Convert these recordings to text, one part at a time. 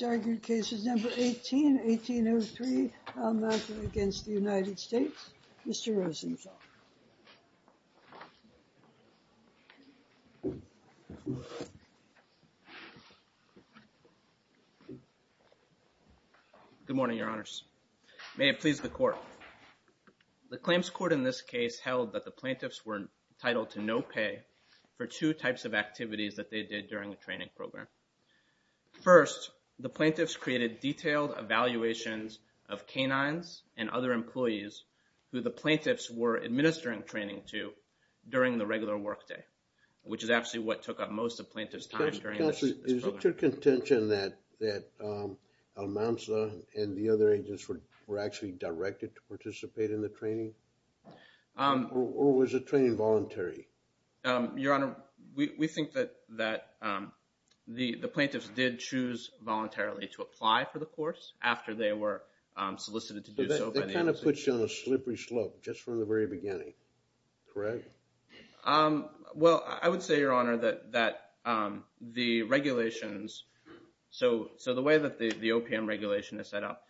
Your case is number 18, 1803, Almanza v. United States. Mr. Rosenthal. Good morning, Your Honors. May it please the Court. The claims court in this case held that the plaintiffs were entitled to no pay for two types of activities that they did during the training program. First, the plaintiffs created detailed evaluations of canines and other employees who the plaintiffs were administering training to during the regular work day, which is actually what took up most of plaintiff's time during this program. Counselor, is it your contention that Almanza and the other agents were actually directed to participate in the training? Or was the training voluntary? Your Honor, we think that the plaintiffs did choose voluntarily to apply for the course after they were solicited to do so by the institution. But that kind of puts you on a slippery slope just from the very beginning, correct? Well, I would say, Your Honor, that the regulations, so the way that the OPM regulation is set up,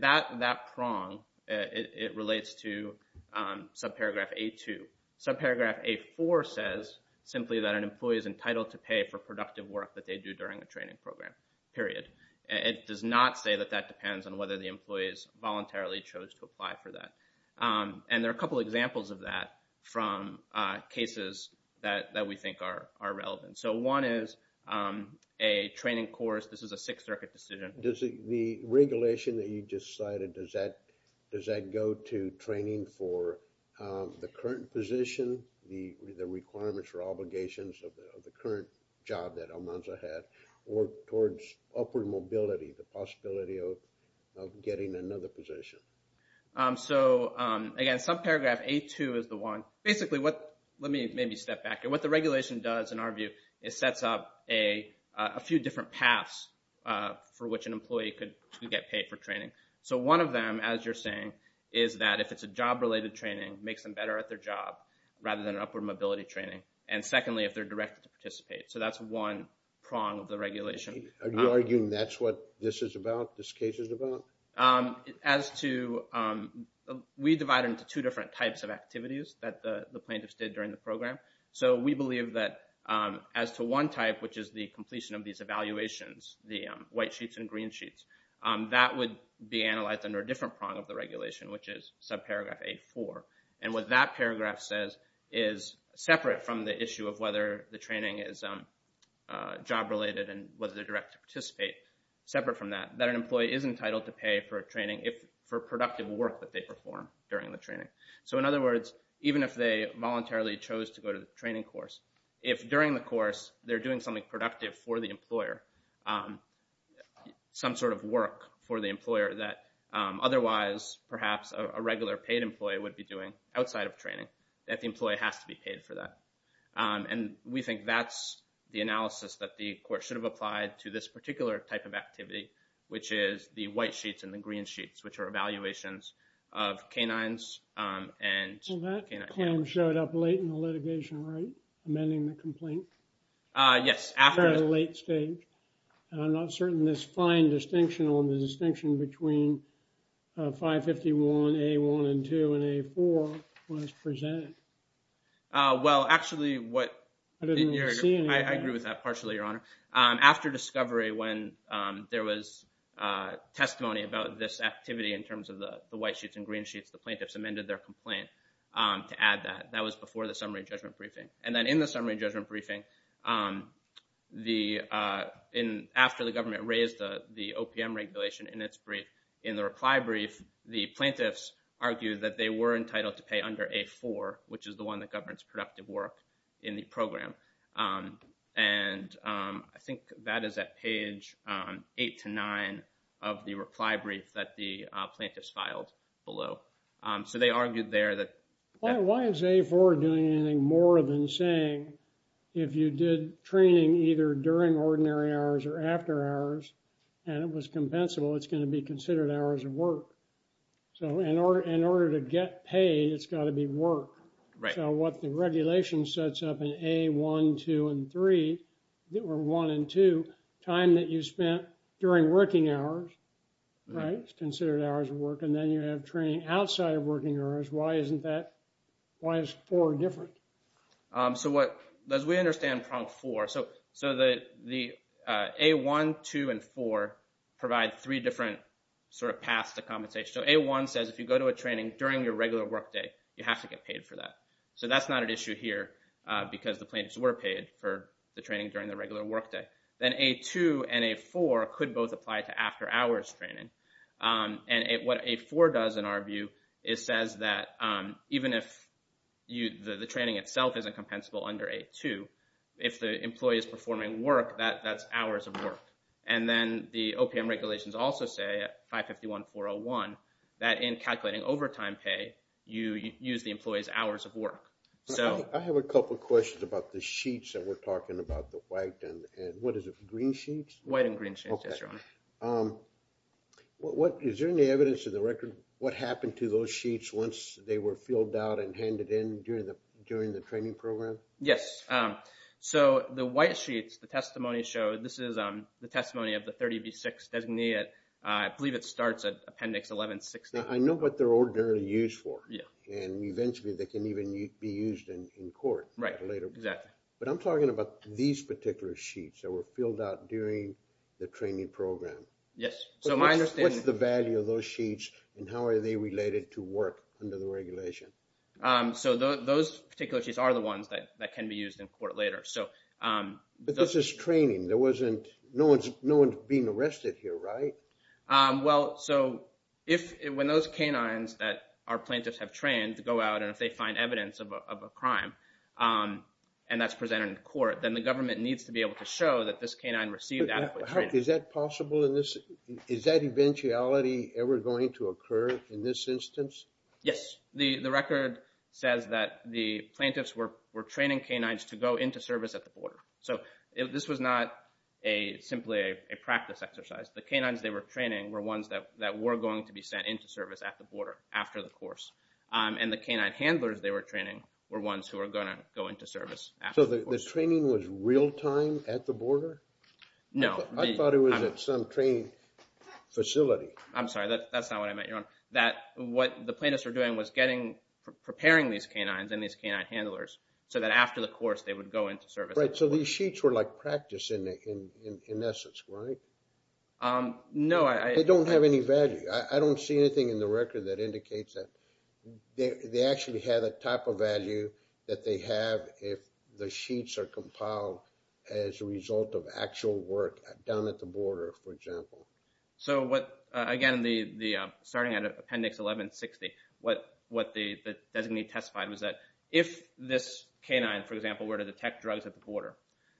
that prong, it relates to subparagraph A2. Subparagraph A4 says simply that an employee is entitled to pay for productive work that they do during the training program, period. It does not say that that depends on whether the employees voluntarily chose to apply for that. And there are a couple examples of that from cases that we think are relevant. So one is a training course, this is a Sixth Circuit decision. The regulation that you just cited, does that go to training for the current position, the requirements or obligations of the current job that Almanza had, or towards upward mobility, the possibility of getting another position? So again, subparagraph A2 is the one. Basically, let me maybe step back here. What the regulation does, in our view, is sets up a few different paths for which an employee could get paid for training. So one of them, as you're saying, is that if it's a job-related training, makes them better at their job, rather than upward mobility training. And secondly, if they're directed to participate. So that's one prong of the regulation. Are you arguing that's what this is about, this case is about? We divide them into two different types of activities that the plaintiffs did during the program. So we believe that as to one type, which is the completion of these evaluations, the white sheets and green sheets, that would be analyzed under a different prong of the regulation, which is subparagraph A4. And what that paragraph says is, separate from the issue of whether the training is job-related and whether they're directed to participate, separate from that, that an employee is entitled to pay for training for productive work that they perform during the training. So in other words, even if they voluntarily chose to go to the training course, if during the course they're doing something productive for the employer, some sort of work for the employer that otherwise, perhaps, a regular paid employee would be doing outside of training, that the employee has to be paid for that. And we think that's the analysis that the court should have applied to this particular type of activity, which is the white sheets and the green sheets, which are evaluations of canines and canine clients. Well, that came, showed up late in the litigation, right? Amending the complaint? Yes, after- At a late stage. I'm not certain this fine distinction on the distinction between 551A1 and 2 and A4 was presented. Well, actually, what- I didn't see any of that. I agree with that partially, Your Honor. After discovery, when there was testimony about this activity in terms of the white sheets and green sheets, the plaintiffs amended their complaint to add that. That was before the summary judgment briefing. And then in the summary judgment briefing, after the government raised the OPM regulation in its brief, in the reply brief, the plaintiffs argued that they were entitled to pay under A4, which is the one that governs productive work in the program. And I think that is at page eight to nine of the reply brief that the plaintiffs filed below. So they argued there that- A4 doing anything more than saying if you did training either during ordinary hours or after hours, and it was compensable, it's going to be considered hours of work. So in order to get paid, it's got to be work. Right. So what the regulation sets up in A1, 2, and 3, or 1 and 2, time that you spent during working hours, right, is considered hours of work. And then you have training outside of working hours. Why isn't that, why is 4 different? So what, as we understand from 4, so the A1, 2, and 4 provide three different sort of paths to compensation. So A1 says if you go to a training during your regular work day, you have to get paid for that. So that's not an issue here, because the plaintiffs were paid for the training during the regular work day. Then A2 and A4 could both apply to after hours training. And what A4 does in our view, it says that even if the training itself isn't compensable under A2, if the employee is performing work, that's hours of work. And then the OPM regulations also say at 551-401 that in calculating overtime pay, you use the employee's hours of work. So. I have a couple of questions about the sheets that we're talking about, the white and, what is it, green sheets? White and green sheets, yes, Your Honor. What, is there any evidence in the record what happened to those sheets once they were filled out and handed in during the training program? Yes, so the white sheets, the testimony showed, this is the testimony of the 30B6 designee at, I believe it starts at Appendix 11-16. Now I know what they're ordinarily used for. Yeah. And eventually they can even be used in court. Right, exactly. But I'm talking about these particular sheets that were filled out during the training program. Yes, so my understanding. What's the value of those sheets and how are they related to work under the regulation? So those particular sheets are the ones that can be used in court later, so. But this is training, there wasn't, no one's being arrested here, right? Well, so if, when those canines that our plaintiffs have trained go out and if they find evidence of a crime, and that's presented in court, then the government needs to be able to show that this canine received adequate training. Is that possible in this, is that eventuality ever going to occur in this instance? Yes, the record says that the plaintiffs were training canines to go into service at the border. So this was not simply a practice exercise. The canines they were training were ones that were going to be sent into service at the border after the course. And the canine handlers they were training were ones who were gonna go into service after the course. So the training was real time at the border? No. I thought it was at some training facility. I'm sorry, that's not what I meant, Your Honor. That what the plaintiffs were doing was preparing these canines and these canine handlers so that after the course they would go into service. Right, so these sheets were like practice in essence, right? No, I. They don't have any value. I don't see anything in the record that indicates that they actually had a type of value that they have if the sheets are compiled as a result of actual work down at the border, for example. So what, again, starting out of Appendix 1160, what the designee testified was that if this canine, for example, were to detect drugs at the border,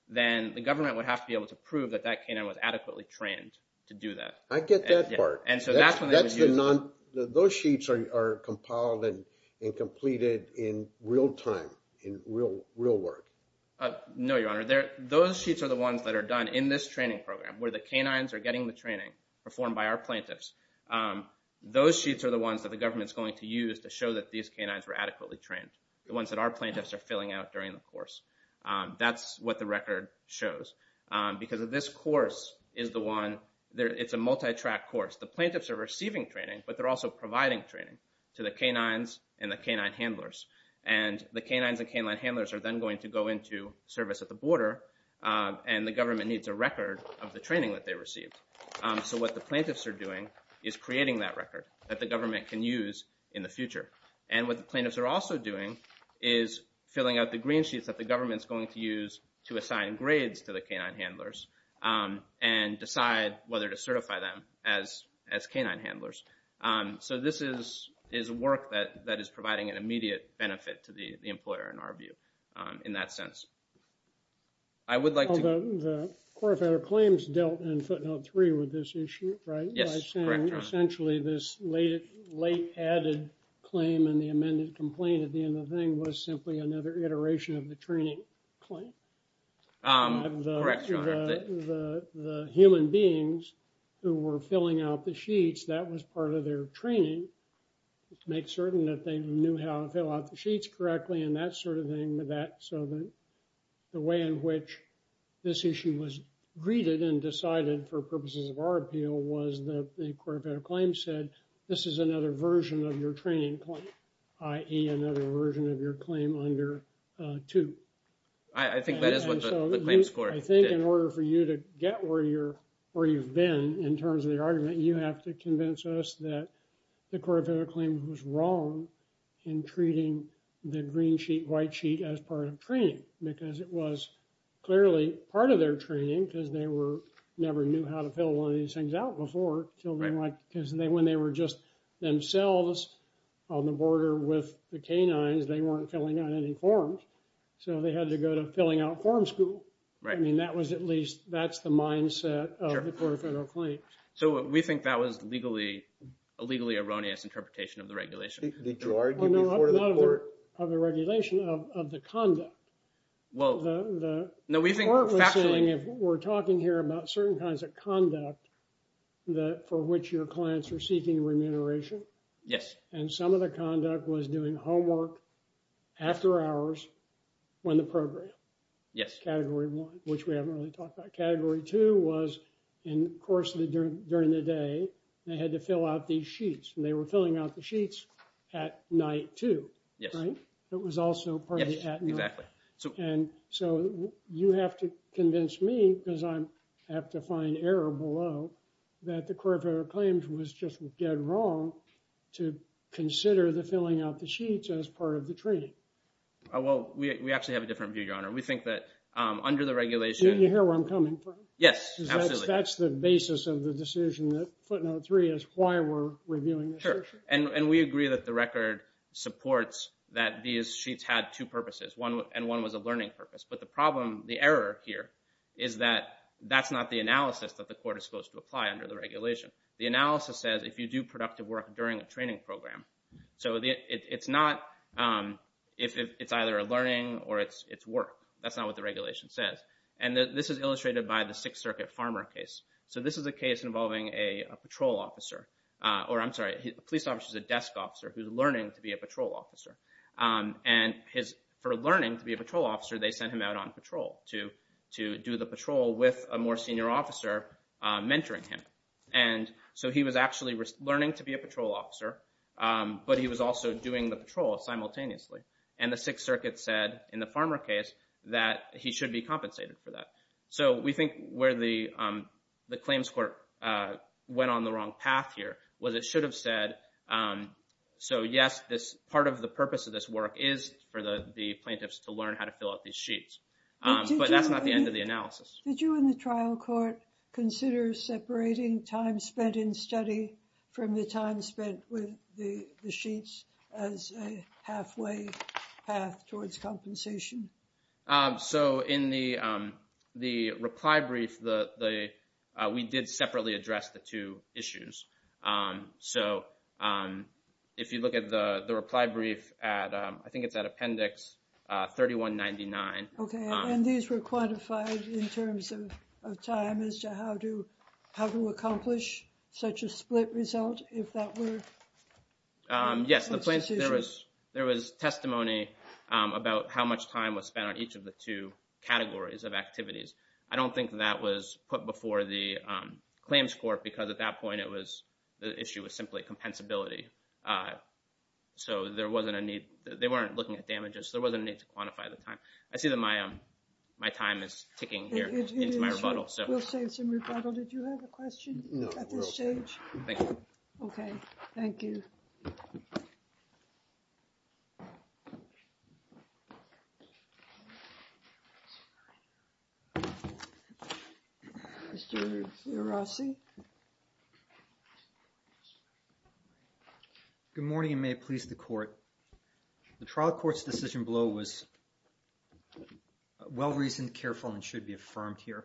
then the government would have to be able to prove that that canine was adequately trained to do that. I get that part. And so that's when they would use. Those sheets are compiled and completed in real time, in real work. No, Your Honor, those sheets are the ones that are done in this training program where the canines are getting the training performed by our plaintiffs. Those sheets are the ones that the government's going to use to show that these canines were adequately trained, the ones that our plaintiffs are filling out during the course. That's what the record shows. Because of this course is the one, it's a multi-track course. The plaintiffs are receiving training, but they're also providing training to the canines and the canine handlers. And the canines and canine handlers are then going to go into service at the border, and the government needs a record of the training that they received. So what the plaintiffs are doing is creating that record that the government can use in the future. And what the plaintiffs are also doing is filling out the green sheets that the government's going to use to assign grades to the canine handlers and decide whether to certify them as canine handlers. So this is work that is providing an immediate benefit to the employer, in our view, in that sense. I would like to- Although the core federal claims dealt in footnote three with this issue, right? Yes, correct, Your Honor. By saying essentially this late added claim and the amended complaint at the end of the thing was simply another iteration of the training claim. Correct, Your Honor. The human beings who were filling out the sheets, that was part of their training, to make certain that they knew how to fill out the sheets correctly and that sort of thing. So the way in which this issue was greeted and decided for purposes of our appeal was that the core federal claim said, this is another version of your training claim, i.e. another version of your claim under two. I think that is what the claim score did. I think in order for you to get where you've been in terms of the argument, you have to convince us that the core federal claim was wrong in treating the green sheet, white sheet as part of training because it was clearly part of their training because they never knew how to fill one of these things out before. Because when they were just themselves on the border with the canines, they weren't filling out any forms. So they had to go to filling out form school. Right. I mean, that was at least, that's the mindset of the core federal claim. So we think that was a legally erroneous interpretation of the regulation. Did you argue before the court? Well, no, not of the regulation, of the conduct. Well, the court was saying, if we're talking here about certain kinds of conduct for which your clients are seeking remuneration. Yes. And some of the conduct was doing homework after hours when the program. Yes. Category one, which we haven't really talked about. Category two was, and of course, during the day, they had to fill out these sheets and they were filling out the sheets at night too. Yes. It was also partly at night. Yes, exactly. So you have to convince me because I have to find error below that the core federal claims was just dead wrong to consider the filling out the sheets as part of the training. Oh, well, we actually have a different view, Your Honor. We think that under the regulation. You hear where I'm coming from? Yes, absolutely. That's the basis of the decision that footnote three is why we're reviewing this issue. And we agree that the record supports that these sheets had two purposes. One, and one was a learning purpose. But the problem, the error here, is that that's not the analysis that the court is supposed to apply under the regulation. The analysis says, if you do productive work during a training program. So it's not, it's either a learning or it's work. That's not what the regulation says. This is illustrated by the Sixth Circuit Farmer case. So this is a case involving a patrol officer, or I'm sorry, a police officer is a desk officer who's learning to be a patrol officer. And for learning to be a patrol officer, they sent him out on patrol to do the patrol with a more senior officer mentoring him. And so he was actually learning to be a patrol officer, but he was also doing the patrol simultaneously. And the Sixth Circuit said, in the Farmer case, that he should be compensated for that. So we think where the claims court went on the wrong path here, was it should have said, so yes, this part of the purpose of this work is for the plaintiffs to learn how to fill out these sheets. But that's not the end of the analysis. Did you in the trial court consider separating time spent in study from the time spent with the sheets as a halfway path towards compensation? So in the reply brief, we did separately address the two issues. So if you look at the reply brief at, I think it's at appendix 3199. Okay, and these were quantified in terms of time as to how to accomplish such a split result, if that were? Yes, there was testimony about how much time was spent on each of the two categories of activities. I don't think that was put before the claims court because at that point it was, the issue was simply compensability. So there wasn't a need, they weren't looking at damages. There wasn't a need to quantify the time. I see that my time is ticking here into my rebuttal. We'll save some rebuttal. Did you have a question at this stage? Thank you. Okay, thank you. Mr. Rossi. Good morning and may it please the court. The trial court's decision blow was well-reasoned, careful and should be affirmed here.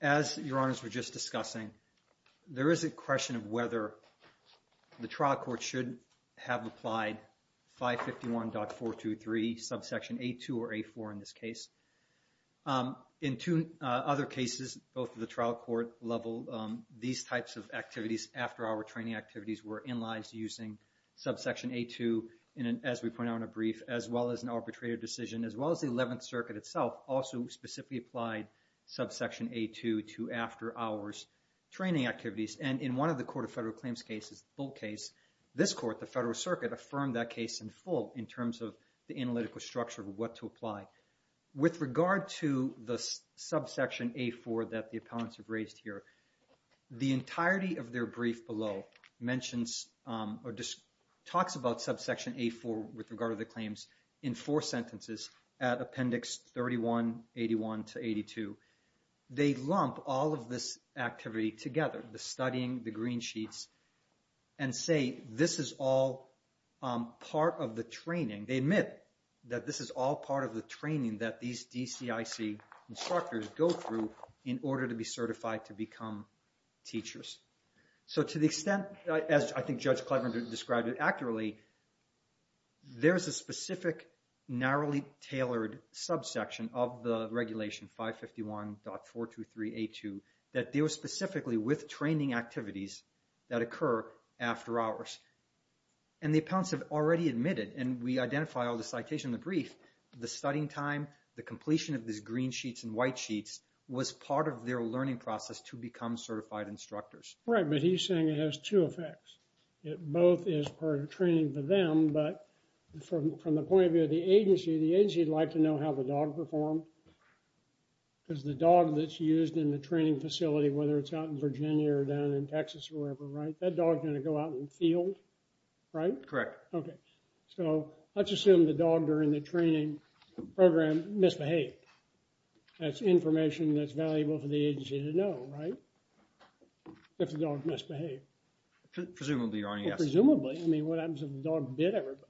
As your honors were just discussing, there is a question of whether the trial court should have applied 551.423, subsection A2 or A4 in this case. In two other cases, both of the trial court level, these types of activities, after-hour training activities were in-licensed using subsection A2, as we pointed out in a brief, as well as an arbitrated decision, as well as the 11th Circuit itself also specifically applied subsection A2 to after-hours training activities. And in one of the Court of Federal Claims cases, full case, this court, the Federal Circuit, affirmed that case in full in terms of the analytical structure of what to apply. With regard to the subsection A4 that the appellants have raised here, the entirety of their brief below mentions or just talks about subsection A4 with regard to the claims in four sentences at appendix 31, 81 to 82. They lump all of this activity together, the studying, the green sheets, and say this is all part of the training. They admit that this is all part of the training that these DCIC instructors go through in order to be certified to become teachers. So to the extent, as I think Judge Clever described it accurately, there's a specific narrowly tailored subsection of the regulation 551.423A2 that deals specifically with training activities that occur after hours. And the appellants have already admitted, and we identify all the citation in the brief, the studying time, the completion of these green sheets and white sheets was part of their learning process to become certified instructors. Right, but he's saying it has two effects. It both is part of training for them, but from the point of view of the agency, the agency would like to know how the dog performed because the dog that's used in the training facility, whether it's out in Virginia or down in Texas or wherever, right, that dog's gonna go out in the field, right? Correct. Okay, so let's assume the dog during the training program misbehaved. That's information that's valuable for the agency to know, right? If the dog misbehaved. Presumably, Your Honor, yes. Presumably, I mean, what happens if the dog bit everybody?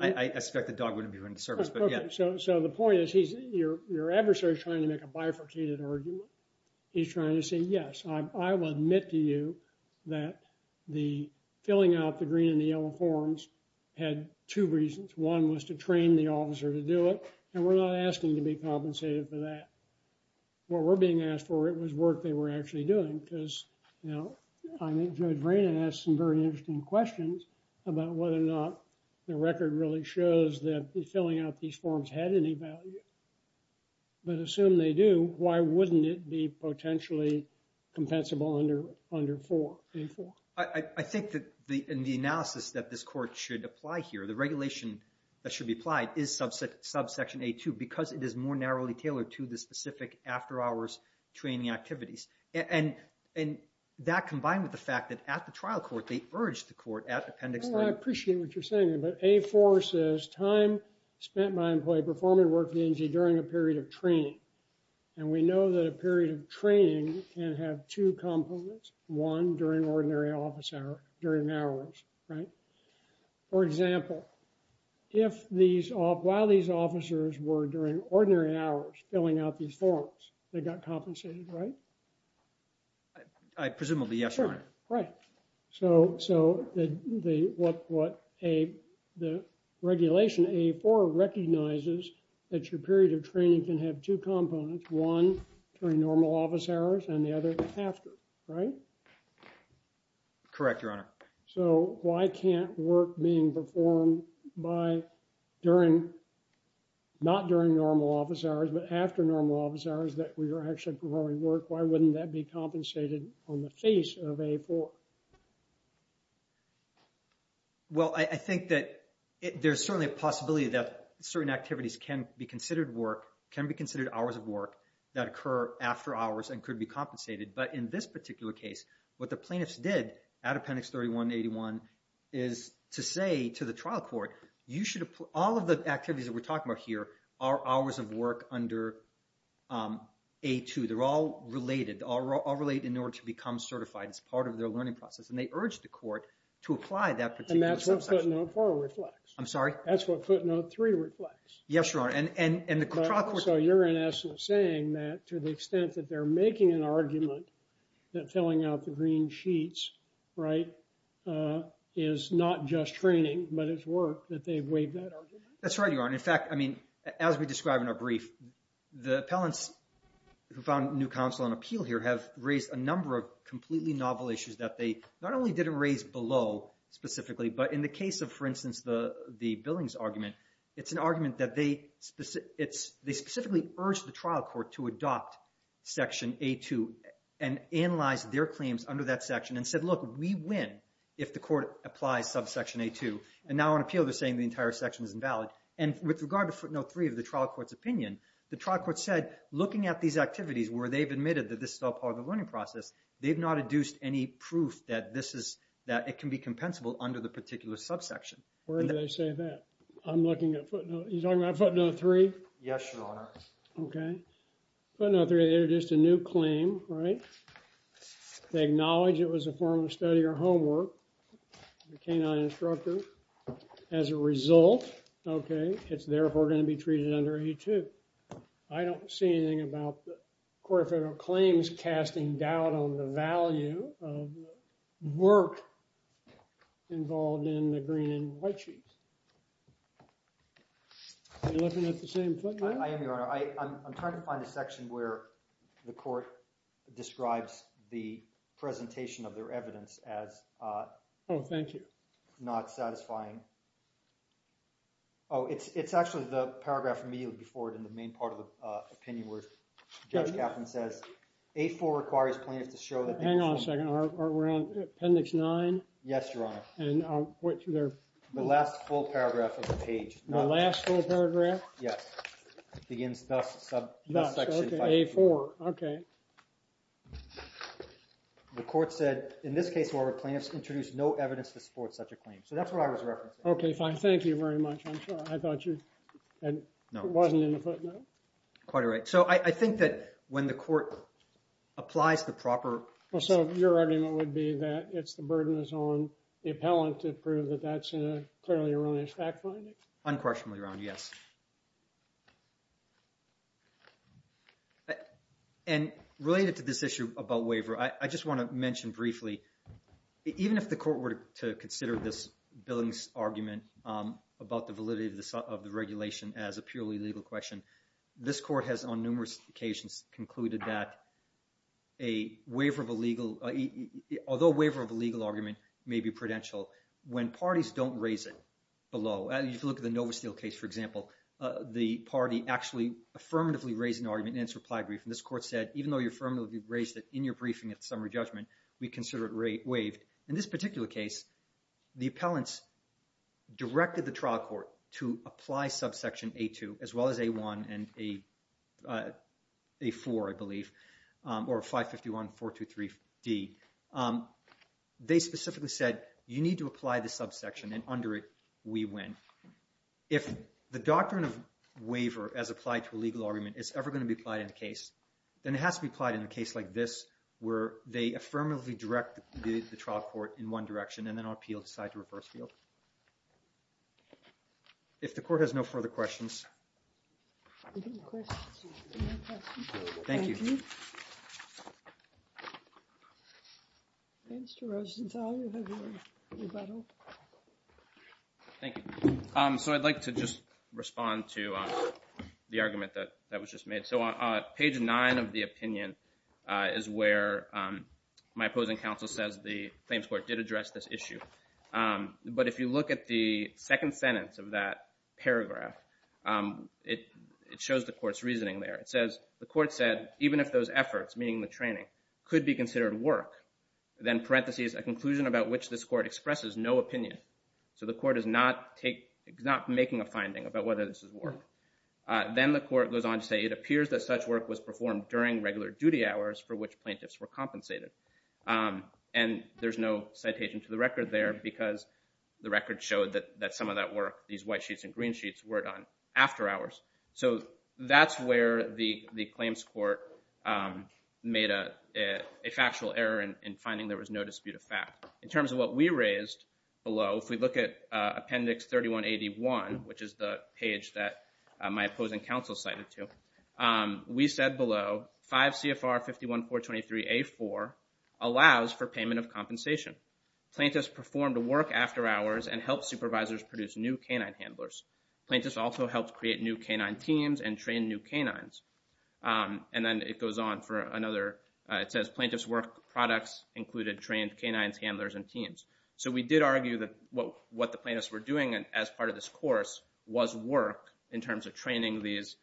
I expect the dog wouldn't be put into service, but yeah. So the point is your adversary's trying to make a bifurcated argument. He's trying to say, yes, I will admit to you that the filling out the green and the yellow forms had two reasons. One was to train the officer to do it, and we're not asking to be compensated for that. What we're being asked for, it was work they were actually doing because, you know, I think Judge Vranen asked some very interesting questions about whether or not the record really shows that the filling out these forms had any value. But assume they do, why wouldn't it be potentially compensable under A-4? I think that in the analysis that this court should apply here, the regulation that should be applied is subsection A-2 because it is more narrowly tailored to the specific after-hours training activities. And that combined with the fact that at the trial court, they urged the court at Appendix A-4. Well, I appreciate what you're saying there, but A-4 says time spent by employee performing work for the agency during a period of training. And we know that a period of training can have two components. One, during ordinary office hours, during hours, right? For example, while these officers were during ordinary hours filling out these forms, they got compensated, right? I presumably, yes, Your Honor. Right. So the regulation A-4 recognizes that your period of training can have two components, one during normal office hours and the other after, right? Correct, Your Honor. So why can't work being performed by during, not during normal office hours, but after normal office hours that we were actually performing work, why wouldn't that be compensated on the face of A-4? Well, I think that there's certainly a possibility that certain activities can be considered work, can be considered hours of work that occur after hours and could be compensated. But in this particular case, what the plaintiffs did at Appendix 31-81 is to say to the trial court, you should, all of the activities that we're talking about here are hours of work under A-2. They're all related, all relate in order to become certified as part of their learning process. And they urged the court to apply that particular subsection. And that's what footnote four reflects. I'm sorry? That's what footnote three reflects. Yes, Your Honor. And the trial court- So you're in essence saying that to the extent that they're making an argument that filling out the green sheets, right, is not just training, but it's work that they've waived that argument? That's right, Your Honor. In fact, I mean, as we described in our brief, the appellants who found new counsel on appeal here have raised a number of completely novel issues that they not only didn't raise below specifically, but in the case of, for instance, the billings argument, it's an argument that they specifically urged the trial court to adopt Section A-2 and analyze their claims under that section and said, look, we win if the court applies subsection A-2. And now on appeal, they're saying the entire section is invalid. And with regard to footnote three of the trial court's opinion, the trial court said, looking at these activities where they've admitted that this is all part of the learning process, they've not adduced any proof that this is, that it can be compensable under the particular subsection. Where did they say that? I'm looking at footnote, you're talking about footnote three? Yes, Your Honor. Okay. Footnote three, they introduced a new claim, right? They acknowledge it was a form of study or homework, the canine instructor. As a result, okay, it's therefore gonna be treated under A-2. I don't see anything about the Court of Federal Claims casting doubt on the value of the work involved in the green and white sheets. Are you looking at the same footnote? I am, Your Honor. I'm trying to find a section where the court describes the presentation of their evidence as- Oh, thank you. Not satisfying. Oh, it's actually the paragraph immediately before it in the main part of the opinion where Judge Kaplan says, A-4 requires plaintiffs to show that- Hang on a second, we're on appendix nine? Yes, Your Honor. And which they're- The last full paragraph of the page. The last full paragraph? Yes. Begins thus subsection A-4. Okay. The court said, in this case where the plaintiffs introduced no evidence to support such a claim. So that's what I was referencing. Okay, fine. Thank you very much. I'm sorry, I thought you- No. It wasn't in the footnote? Quite right. So I think that when the court applies the proper- Well, so your argument would be that it's the burden is on the appellant to prove that that's a clearly erroneous fact finding? Unquestionably, Your Honor, yes. And related to this issue about waiver, I just wanna mention briefly, even if the court were to consider this Billings argument about the validity of the regulation as a purely legal question, this court has, on numerous occasions, concluded that a waiver of a legal, although a waiver of a legal argument may be prudential, when parties don't raise it below, if you look at the Novasteel case, for example, the party actually affirmatively raised an argument in its reply brief, and this court said, even though you affirmatively raised it in your briefing at summary judgment, we consider it waived. In this particular case, the appellants directed the trial court to apply subsection A-2, as well as A-1 and A-4, I believe, or 551-423-D. They specifically said, you need to apply the subsection, and under it, we win. If the doctrine of waiver as applied to a legal argument is ever gonna be applied in a case, then it has to be applied in a case like this, where they affirmatively direct the trial court in one direction, and then our appeal decides to reverse field. If the court has no further questions. Any questions? Any more questions? Thank you. Thank you. Mr. Rosenthal, you have your rebuttal. Thank you. So I'd like to just respond to the argument that was just made. So on page nine of the opinion is where my opposing counsel says the claims court did address this issue. But if you look at the second sentence of that paragraph, it shows the court's reasoning there. It says, the court said, even if those efforts, meaning the training, could be considered work, then parentheses, a conclusion about which this court expresses no opinion. So the court is not making a finding about whether this is work. Then the court goes on to say, it appears that such work was performed during regular duty hours for which plaintiffs were compensated. And there's no citation to the record there because the record showed that some of that work, these white sheets and green sheets, were done after hours. So that's where the claims court made a factual error in finding there was no dispute of fact. In terms of what we raised below, if we look at appendix 3181, which is the page that my opposing counsel cited to, we said below, 5 CFR 51423A4 allows for payment of compensation. Plaintiffs performed work after hours and helped supervisors produce new canine handlers. Plaintiffs also helped create new canine teams and train new canines. And then it goes on for another, it says plaintiffs' work products included trained canines, handlers, and teams. So we did argue that what the plaintiffs were doing as part of this course was work in terms of training these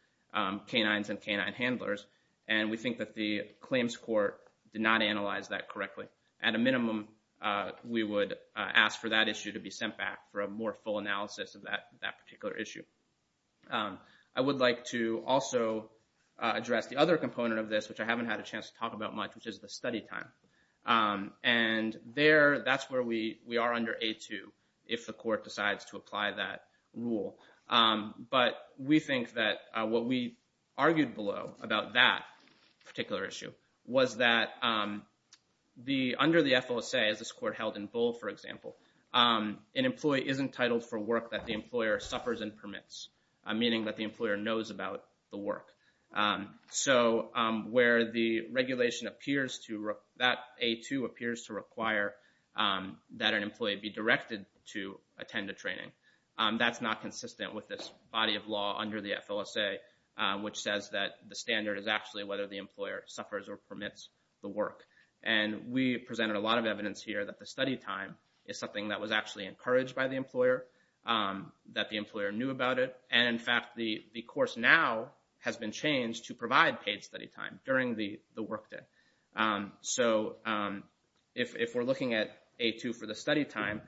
canines and canine handlers. And we think that the claims court did not analyze that correctly. At a minimum, we would ask for that issue to be sent back for a more full analysis of that particular issue. I would like to also address the other component of this, which I haven't had a chance to talk about much, which is the study time. And there, that's where we are under A2 if the court decides to apply that rule. But we think that what we argued below about that particular issue was that under the FLSA, as this court held in Bull, for example, an employee is entitled for work that the employer suffers and permits, meaning that the employer knows about the work. So where the regulation appears to, that A2 appears to require that an employee be directed to attend a training, that's not consistent with this body of law under the FLSA, which says that the standard is actually whether the employer suffers or permits the work. And we presented a lot of evidence here that the study time is something that was actually encouraged by the employer, that the employer knew about it. And in fact, the course now has been changed to provide paid study time during the work day. So if we're looking at A2 for the study time,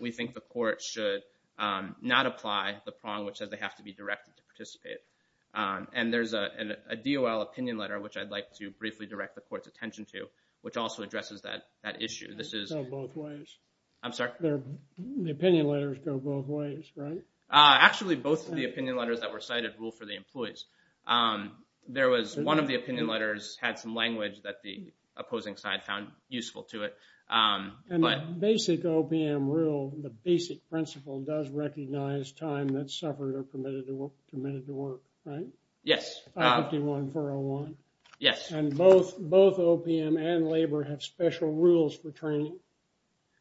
we think the court should not apply the prong which says they have to be directed to participate. And there's a DOL opinion letter which I'd like to briefly direct the court's attention to, which also addresses that issue. This is- It's on both ways. I'm sorry? The opinion letters go both ways, right? Actually, both of the opinion letters that were cited rule for the employees. There was one of the opinion letters had some language that the opposing side found useful to it. And the basic OPM rule, the basic principle does recognize time that's suffered or permitted to work, right? Yes. I-51-401. Yes. And both OPM and labor have special rules for training.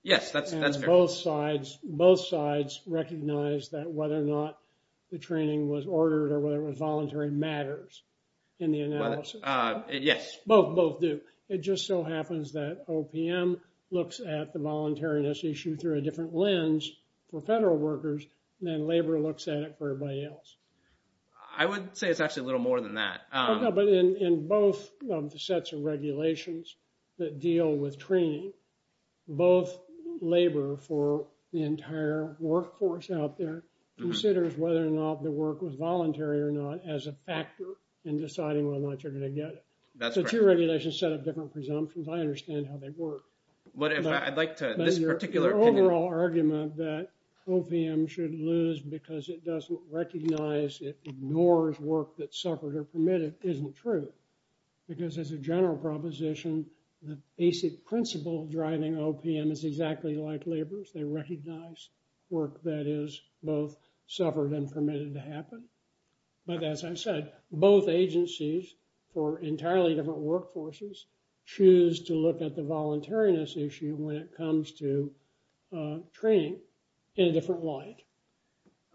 Yes, that's fair. And both sides recognize that whether or not the training was ordered or whether it was voluntary matters in the analysis. Yes. Both do. It just so happens that OPM looks at the voluntariness issue through a different lens for federal workers than labor looks at it for everybody else. I would say it's actually a little more than that. But in both of the sets of regulations that deal with training, both labor for the entire workforce out there considers whether or not the work was voluntary or not as a factor in deciding whether or not you're going to get it. So two regulations set up different presumptions. I understand how they work. But if I'd like to, this particular opinion- But your overall argument that OPM should lose because it doesn't recognize, it ignores work that's suffered or permitted isn't true. Because as a general proposition, the basic principle driving OPM is exactly like labor's. They recognize work that is both suffered and permitted to happen. But as I said, both agencies for entirely different workforces choose to look at the voluntariness issue when it comes to training in a different light.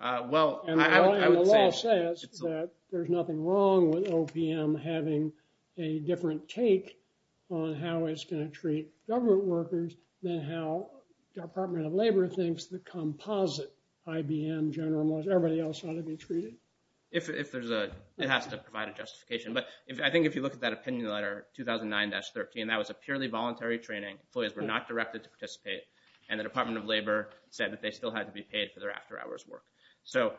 Well, I would say- And the law says that there's nothing wrong with OPM having a different take on how it's going to treat government workers than how the Department of Labor thinks the composite IBM, General Motors, and everybody else ought to be treated. If there's a- It has to provide a justification. But I think if you look at that opinion letter, 2009-13, that was a purely voluntary training. Employees were not directed to participate. And the Department of Labor said that they still had to be paid for their after-hours work. So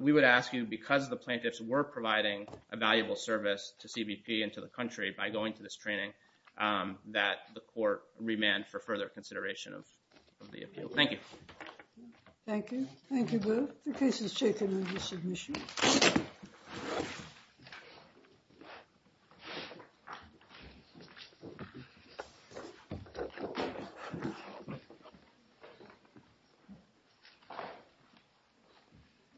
we would ask you, because the plaintiffs were providing a valuable service to CBP and to the country by going to this training, Thank you. Thank you. Thank you, Blue. The case is taken under submission.